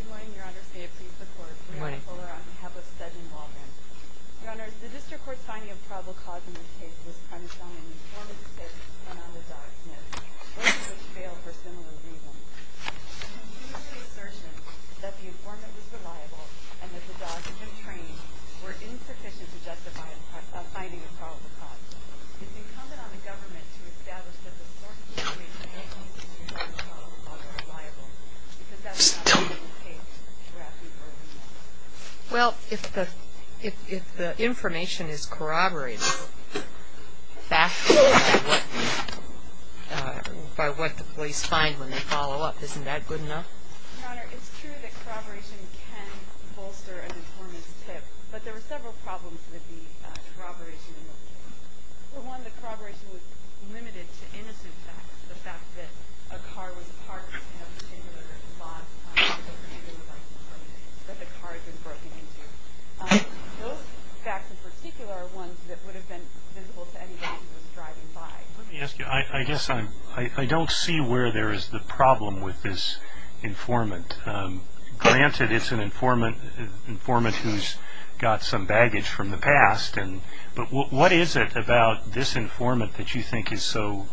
Good morning, your honor. Say a plea for the court. Good morning. We are at Fuller on behalf of Segun Waldron. Your honor, the district court's finding of probable cause in this case was premised on an informant's mistake and on the dog's miss, both of which failed for similar reasons. There is a continuing assertion that the informant was reliable and that the dogs he had trained were insufficient to justify a finding of probable cause. It is incumbent on the government to establish that the source of the information and the informant's information as probable cause are reliable, because that's not what we take for granted early on. Well, if the information is corroborated factually by what the police find when they follow up, isn't that good enough? Your honor, it's true that corroboration can bolster an informant's tip, but there were several problems with the corroboration in the case. For one, the corroboration was limited to innocent facts, the fact that a car was parked in a particular spot that the car had been broken into. Those facts in particular are ones that would have been visible to anybody who was driving by. Let me ask you, I guess I don't see where there is the problem with this informant. Granted, it's an informant who's got some baggage from the past, but what is it about this informant that you think is so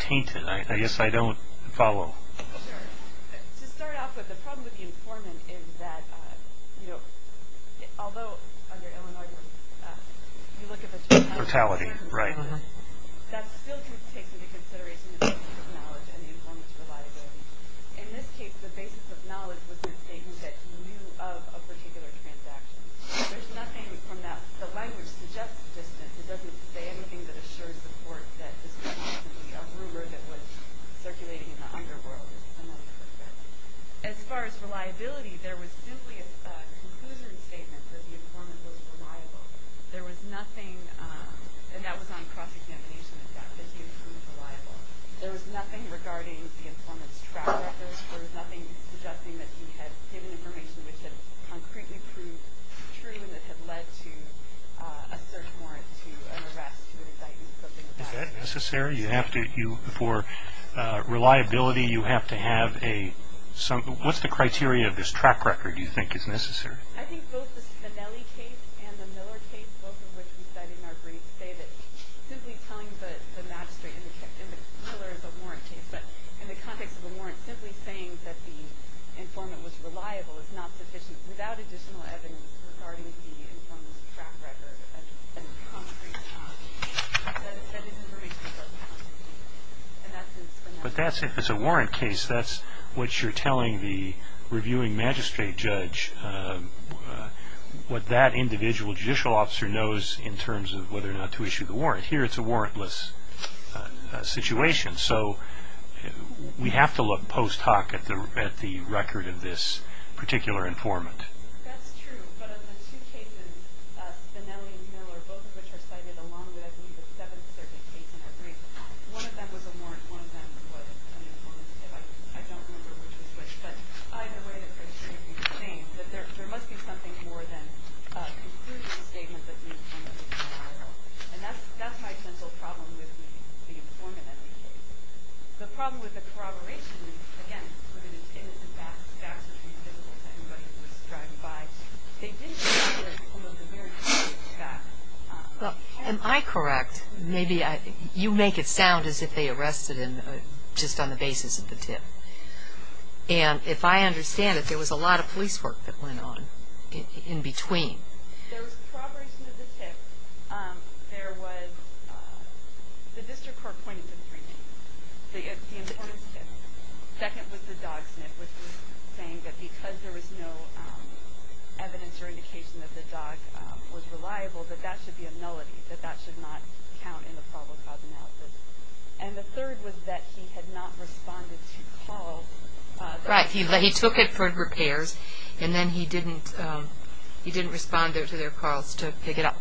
tainted? I guess I don't follow. To start off with, the problem with the informant is that, although under Illinois you look at the totality, that still takes into consideration the basis of knowledge and the informant's reliability. In this case, the basis of knowledge was the statement that you knew of a particular transaction. There's nothing from that. The language suggests distance. It doesn't say anything that assures support that this was a rumor that was circulating in the underworld. As far as reliability, there was simply a conclusion statement that the informant was reliable. There was nothing, and that was on cross-examination, in fact, that he proved reliable. There was nothing regarding the informant's track records. There was nothing suggesting that he had given information which had concretely proved true and that had led to a search warrant, to an arrest, to an indictment, something like that. Is that necessary? You have to, for reliability, you have to have a, what's the criteria of this track record you think is necessary? I think both the Spinelli case and the Miller case, both of which we studied in our brief, say that simply telling the magistrate, and the Miller is a warrant case, but in the context of the warrant, simply saying that the informant was reliable is not sufficient. Without additional evidence regarding the informant's track record, and concrete evidence that said his information was reliable, and that's in Spinelli. But that's, if it's a warrant case, that's what you're telling the reviewing magistrate judge, what that individual judicial officer knows in terms of whether or not to issue the warrant. Here it's a warrantless situation. So we have to look post hoc at the record of this particular informant. That's true. But of the two cases, Spinelli and Miller, both of which are cited along with, I believe, the seventh circuit case in our brief, one of them was a warrant, one of them was an informant. I don't remember which was which. But either way, the criteria can change. There must be something more than a conclusive statement that the informant was reliable. And that's my central problem with the informant and the case. The problem with the corroboration, again, with an intent to backstab somebody who was driving by, they didn't hear some of the very concrete facts. Am I correct? Maybe you make it sound as if they arrested him just on the basis of the tip. And if I understand it, there was a lot of police work that went on in between. There was corroboration of the tip. There was the district court pointing to three things. The informant's tip. Second was the dog sniff, which was saying that because there was no evidence or indication that the dog was reliable, that that should be a nullity, that that should not count in the probable cause analysis. And the third was that he had not responded to calls. Right. He took it for repairs, and then he didn't respond to their calls to pick it up.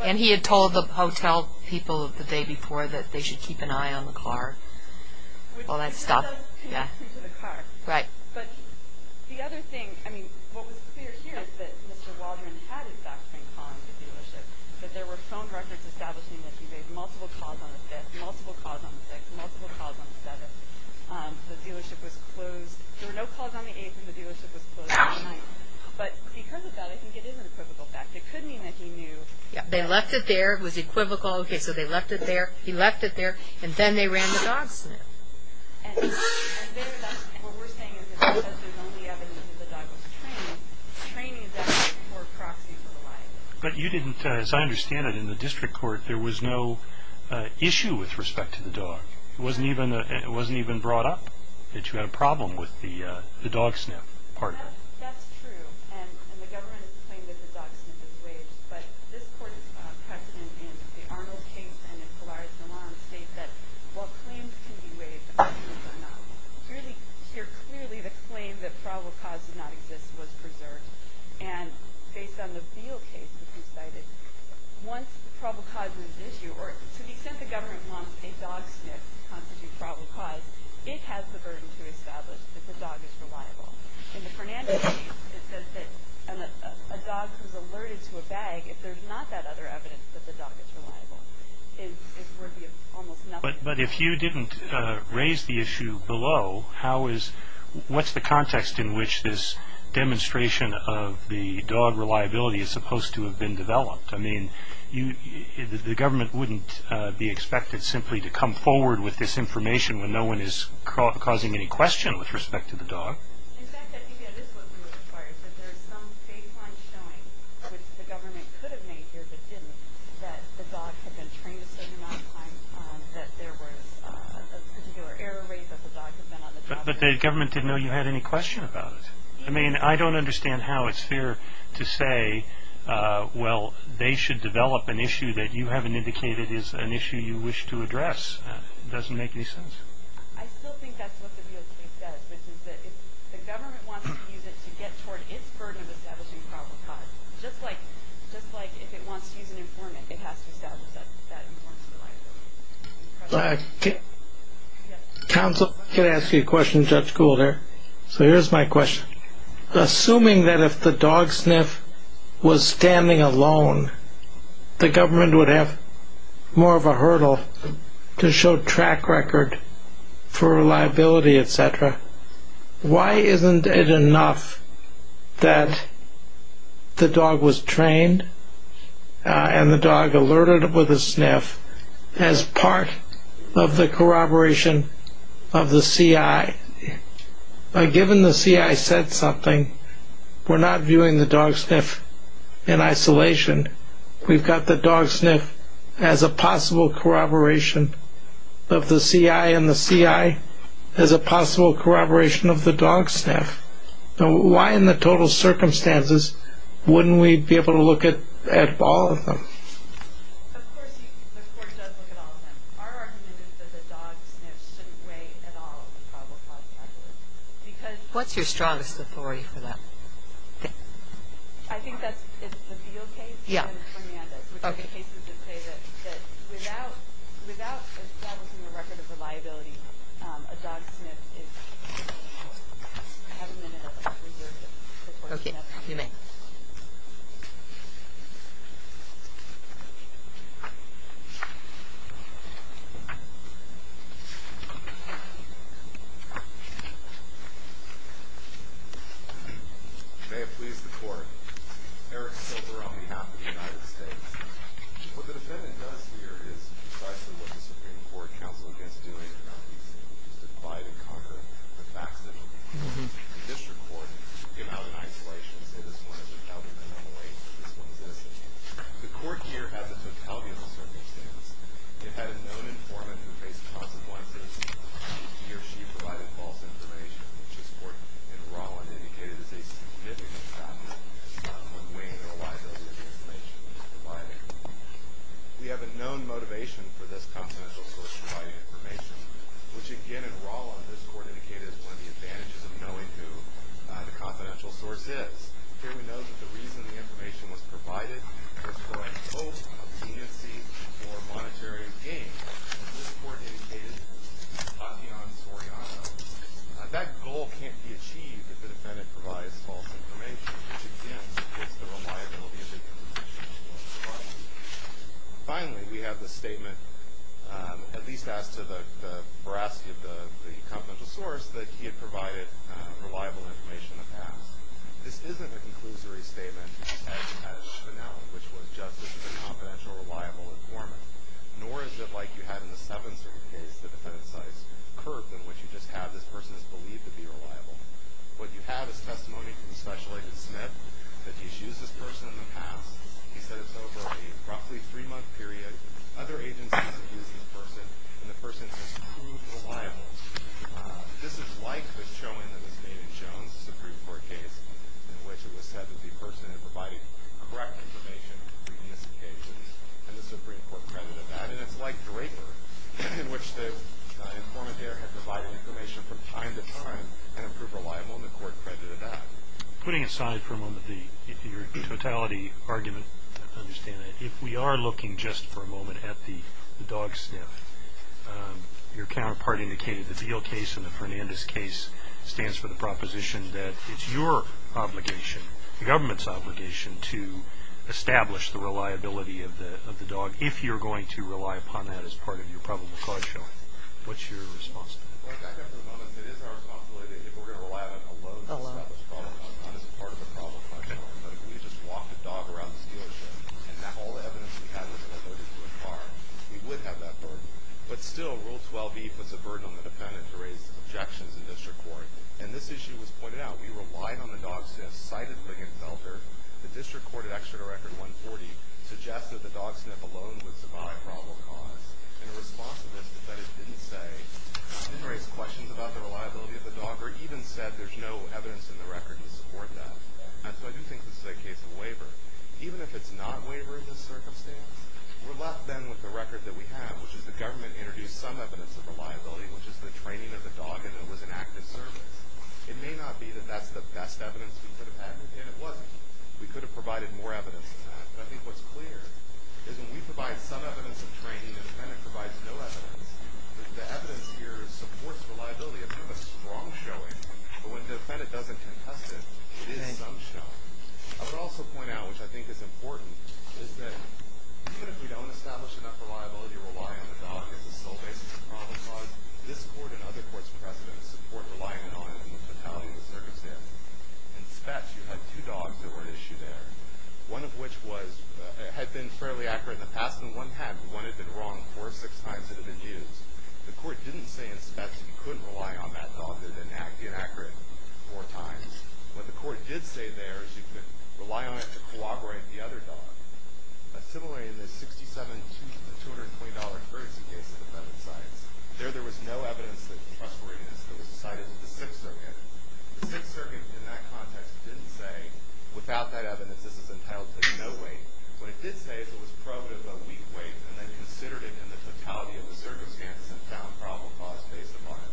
And he had told the hotel people the day before that they should keep an eye on the car. All that stuff. Yeah. Right. But there were phone records establishing that he made multiple calls on the 5th, multiple calls on the 6th, multiple calls on the 7th. The dealership was closed. There were no calls on the 8th, and the dealership was closed on the 9th. But because of that, I think it is an equivocal fact. It could mean that he knew. They left it there. It was equivocal. Okay, so they left it there. He left it there. And then they ran the dog sniff. And what we're saying is that because there's only evidence that the dog was trained, training is actually a poor proxy for the lie detector. But you didn't, as I understand it, in the district court, there was no issue with respect to the dog. It wasn't even brought up that you had a problem with the dog sniff part of it. That's true. And the government has claimed that the dog sniff is waged. But this court's precedent in the Arnold case states that while claims can be waived, claims are not. Here, clearly, the claim that probable cause did not exist was preserved. And based on the Beal case that you cited, once probable cause is issued, or to the extent the government wants a dog sniff to constitute probable cause, it has the burden to establish that the dog is reliable. In the Fernandez case, it says that a dog who's alerted to a bag, if there's not that other evidence that the dog is reliable, is worthy of almost nothing. But if you didn't raise the issue below, what's the context in which this demonstration of the dog reliability is supposed to have been developed? I mean, the government wouldn't be expected simply to come forward with this information when no one is causing any question with respect to the dog. In fact, I think that is what we require, that there is some baseline showing, which the government could have made here but didn't, that the dog had been trained a certain amount of time, that there was a particular error rate that the dog had been on the job. But the government didn't know you had any question about it. I mean, I don't understand how it's fair to say, well, they should develop an issue that you haven't indicated is an issue you wish to address. It doesn't make any sense. I still think that's what the DOJ says, which is that if the government wants to use it to get toward its burden of establishing probable cause, just like if it wants to use an informant, it has to establish that informs reliability. Counsel, can I ask you a question, Judge Gould here? So here's my question. Assuming that if the dog sniff was standing alone, the government would have more of a hurdle to show track record for reliability, et cetera. Why isn't it enough that the dog was trained and the dog alerted with a sniff as part of the corroboration of the CI? Given the CI said something, we're not viewing the dog sniff in isolation. We've got the dog sniff as a possible corroboration of the CI, and the CI as a possible corroboration of the dog sniff. Now, why in the total circumstances wouldn't we be able to look at all of them? Of course, the court does look at all of them. Our argument is that the dog sniff shouldn't weigh at all in the probable cause category. What's your strongest authority for that? I think that's the Beale case and Fernandez, which are the cases that say that without establishing a record of reliability, a dog sniff is, I haven't been able to reserve it. Okay, you may. May it please the court. Eric Silver on behalf of the United States. What the defendant does here is precisely what the Supreme Court counsel against doing around these cases, which is to divide and conquer the facts of the case. The district court would give out an isolation, say this one is without a minimum weight, and this one is innocent. The court here had the totality of the circumstances. It had a known informant who faced consequences. He or she provided false information, which this court in Rolland indicated is a significant factor in weighing the reliability of the information that was provided. We have a known motivation for this confidential source to provide information, which again in Rolland this court indicated is one of the advantages of knowing who the confidential source is. Here we know that the reason the information was provided was for a hope of leniency or monetary gain. This court indicated Tatian Soriano. That goal can't be achieved if the defendant provides false information, which again is the reliability of the information that was provided. Finally, we have the statement, at least as to the veracity of the confidential source, that he had provided reliable information in the past. This isn't a conclusory statement as shown, which was just as a confidential reliable informant, nor is it like you had in the Seventh Circuit case, the defendant's life curved in which you just have this person is believed to be reliable. What you have is testimony from Special Agent Smith that he's used this person in the past. He said it's over a roughly three-month period. Other agencies have used this person, and the person has proved reliable. This is like the showing that was made in Jones, the Supreme Court case, in which it was said that the person had provided correct information on previous occasions, and the Supreme Court credited that, and it's like Draper, in which the informant there had provided information from time to time and proved reliable, and the court credited that. Putting aside for a moment your totality argument, I understand that. If we are looking just for a moment at the dog sniff, your counterpart indicated the Beal case and the Fernandez case stands for the proposition that it's your obligation, the government's obligation, to establish the reliability of the dog if you're going to rely upon that as part of your probable cause showing. What's your response to that? Well, I think for the moment it is our responsibility that if we're going to rely on it alone to establish probable cause, not as part of a probable cause showing, but if we just walked a dog around this dealership, and all the evidence we had was all loaded to a car, we would have that burden. But still, Rule 12b puts a burden on the defendant to raise objections in district court, and this issue was pointed out. We relied on the dog sniff, cited Brigham and Seltzer. The district court at Exeter Record 140 suggested the dog sniff alone would survive probable cause. In response to this, the defendant didn't say, didn't raise questions about the reliability of the dog or even said there's no evidence in the record to support that. And so I do think this is a case of waiver. Even if it's not waiver in this circumstance, we're left then with the record that we have, which is the government introduced some evidence of reliability, which is the training of the dog and it was an active service. It may not be that that's the best evidence we could have had, and it wasn't. We could have provided more evidence than that. But I think what's clear is when we provide some evidence of training, the defendant provides no evidence. The evidence here supports reliability. It's not a strong showing, but when the defendant doesn't contest it, it is some showing. I would also point out, which I think is important, is that even if we don't establish enough reliability to rely on the dog as a sole basis of probable cause, this court and other courts' precedents support relying on it in the totality of the circumstances. In Spetz, you had two dogs that were at issue there, one of which had been fairly accurate in the past, and one had been wrong four or six times and had been used. The court didn't say in Spetz you couldn't rely on that dog, that it had been inaccurate four times. What the court did say there is you could rely on it to corroborate the other dog. Similarly, in the $67,000 to $220,000 courtesy case in the Pembroke sites, there there was no evidence that it was frustrated. It was decided it was the Sixth Circuit. The Sixth Circuit, in that context, didn't say, without that evidence, this is entitled to no weight. What it did say is it was probative of a weak weight, and then considered it in the totality of the circumstances and found probable cause based upon it.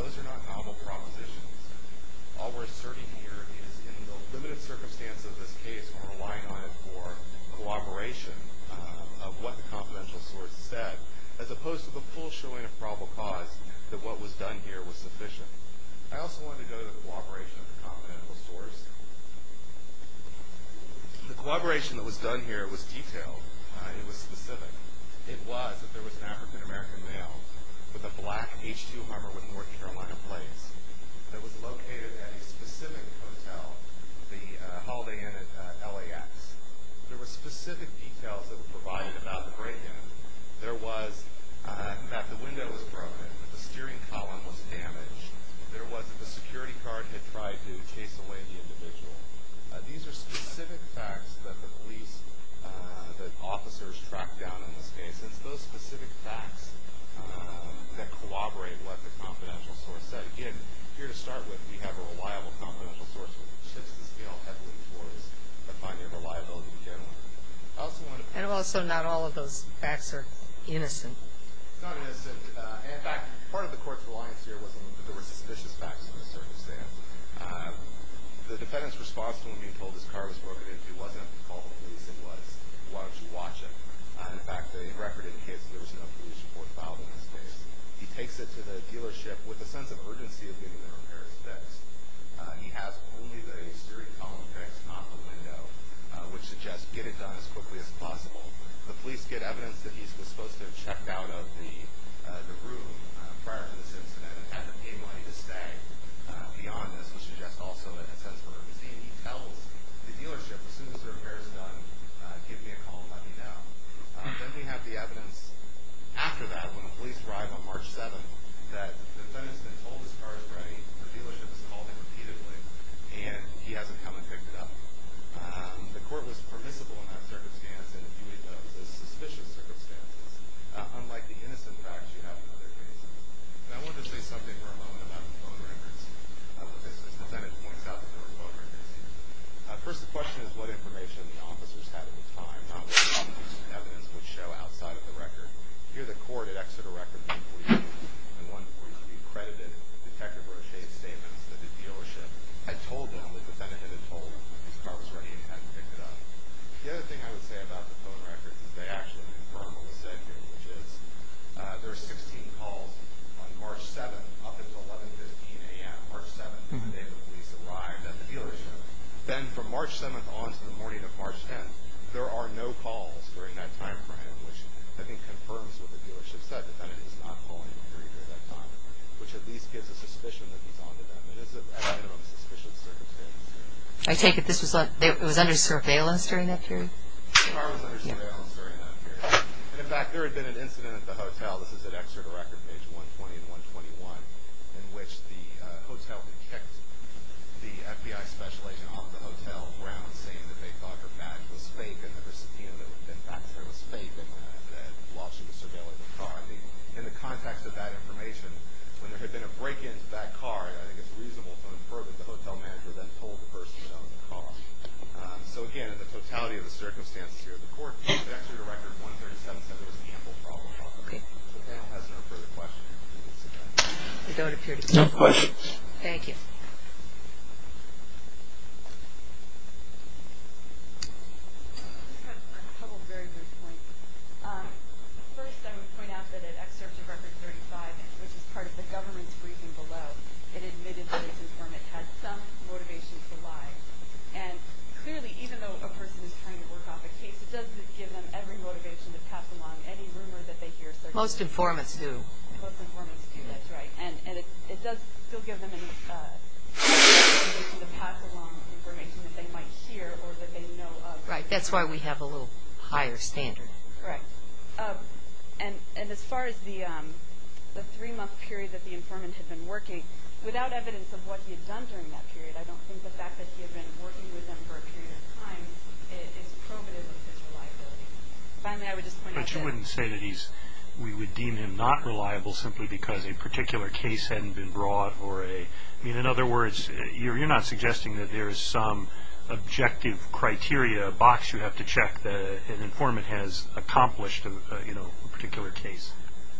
Those are not novel propositions. All we're asserting here is in the limited circumstances of this case, we're relying on it for corroboration of what the confidential source said, as opposed to the full showing of probable cause that what was done here was sufficient. I also wanted to go to the corroboration of the confidential source. The corroboration that was done here was detailed. It was specific. It was that there was an African-American male with a black H2 Hummer with North Carolina plates. It was located at a specific hotel, the Holiday Inn at LAX. There were specific details that were provided about the break-in. There was that the window was broken, that the steering column was damaged. There was that the security guard had tried to chase away the individual. These are specific facts that the police, that officers, track down in this case. And it's those specific facts that corroborate what the confidential source said. Again, here to start with, we have a reliable confidential source, which shifts the scale heavily towards finding reliability in general. And also not all of those facts are innocent. It's not innocent. In fact, part of the court's reliance here was that there were suspicious facts in this circumstance. The defendant's response to him being told his car was broken into wasn't to call the police. It was why don't you watch it. In fact, the record indicates there was no police report filed in this case. He takes it to the dealership with a sense of urgency of getting the repairs fixed. He has only the steering column fixed, not the window, which suggests get it done as quickly as possible. The police get evidence that he was supposed to have checked out of the room prior to this incident and had to pay money to stay. Beyond this, he suggests also a sense of urgency. He tells the dealership, as soon as the repair is done, give me a call and let me know. Then we have the evidence after that, when the police arrive on March 7th, that the defendant's been told his car is ready, the dealership has called him repeatedly, and he hasn't come and picked it up. The court was permissible in that circumstance and viewed those as suspicious circumstances, unlike the innocent facts you have in other cases. And I want to say something for a moment about the phone records. As the defendant points out, there are phone records here. First, the question is what information the officers had at the time, not what evidence would show outside of the record. Here, the court had exited a record in 143, and 143 credited Detective Rochette's statements that the dealership had told them the defendant had been told his car was ready and hadn't picked it up. The other thing I would say about the phone records is they actually confirm what was said here, which is there are 16 calls on March 7th up until 11.15 a.m., March 7th, the day the police arrived at the dealership. Then from March 7th on to the morning of March 10th, there are no calls during that time frame, which I think confirms what the dealership said, the defendant is not calling during that time, which at least gives a suspicion that he's on to them. It is at a minimum a suspicious circumstance. I take it this was under surveillance during that period? The car was under surveillance during that period. In fact, there had been an incident at the hotel. This is at Exeter Record, page 120 and 121, in which the hotel had kicked the FBI special agent off the hotel grounds, saying that they thought the badge was fake and the recipient of the vaccine was fake while she was surveilling the car. In the context of that information, when there had been a break-in to that car, I think it's reasonable to infer that the hotel manager then told the person who owned the car. So again, in the totality of the circumstances here, the court at Exeter Record 137 said there was an ample problem. Okay. If the panel has no further questions, we will sit down. There don't appear to be any questions. Thank you. I just have a very brief point. First, I would point out that at Exeter Record 35, which is part of the government's briefing below, it admitted that its informant had some motivation to lie. Correct. And clearly, even though a person is trying to work off a case, it doesn't give them every motivation to pass along any rumor that they hear. Most informants do. Most informants do. That's right. And it does still give them a motivation to pass along information that they might hear or that they know of. Right. That's why we have a little higher standard. Correct. And as far as the three-month period that the informant had been working, without evidence of what he had done during that period, I don't think the fact that he had been working with them for a period of time is probative of his reliability. Finally, I would just point out that… But you wouldn't say that we would deem him not reliable simply because a particular case hadn't been brought or a… I mean, in other words, you're not suggesting that there is some objective criteria, a box you have to check that an informant has accomplished a particular case.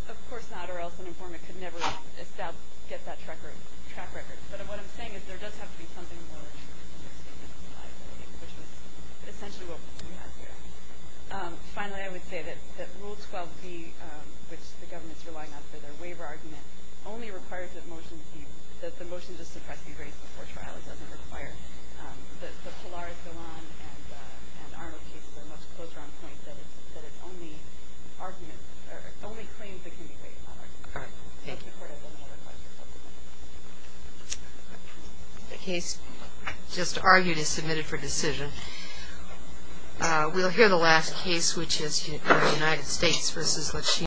Of course not, or else an informant could never get that track record. But what I'm saying is there does have to be something more or less realistic in his life, which is essentially what we're seeing out here. Finally, I would say that Rule 12B, which the government is relying on for their waiver argument, only requires that the motion just suppressed be raised before trial. It doesn't require that the Polaris go on and Arnold cases are much closer on point, that it's only claims that can be waived, not arguments. All right. Thank you. Any other questions? The case just argued is submitted for decision. We'll hear the last case, which is United States v. Lechina.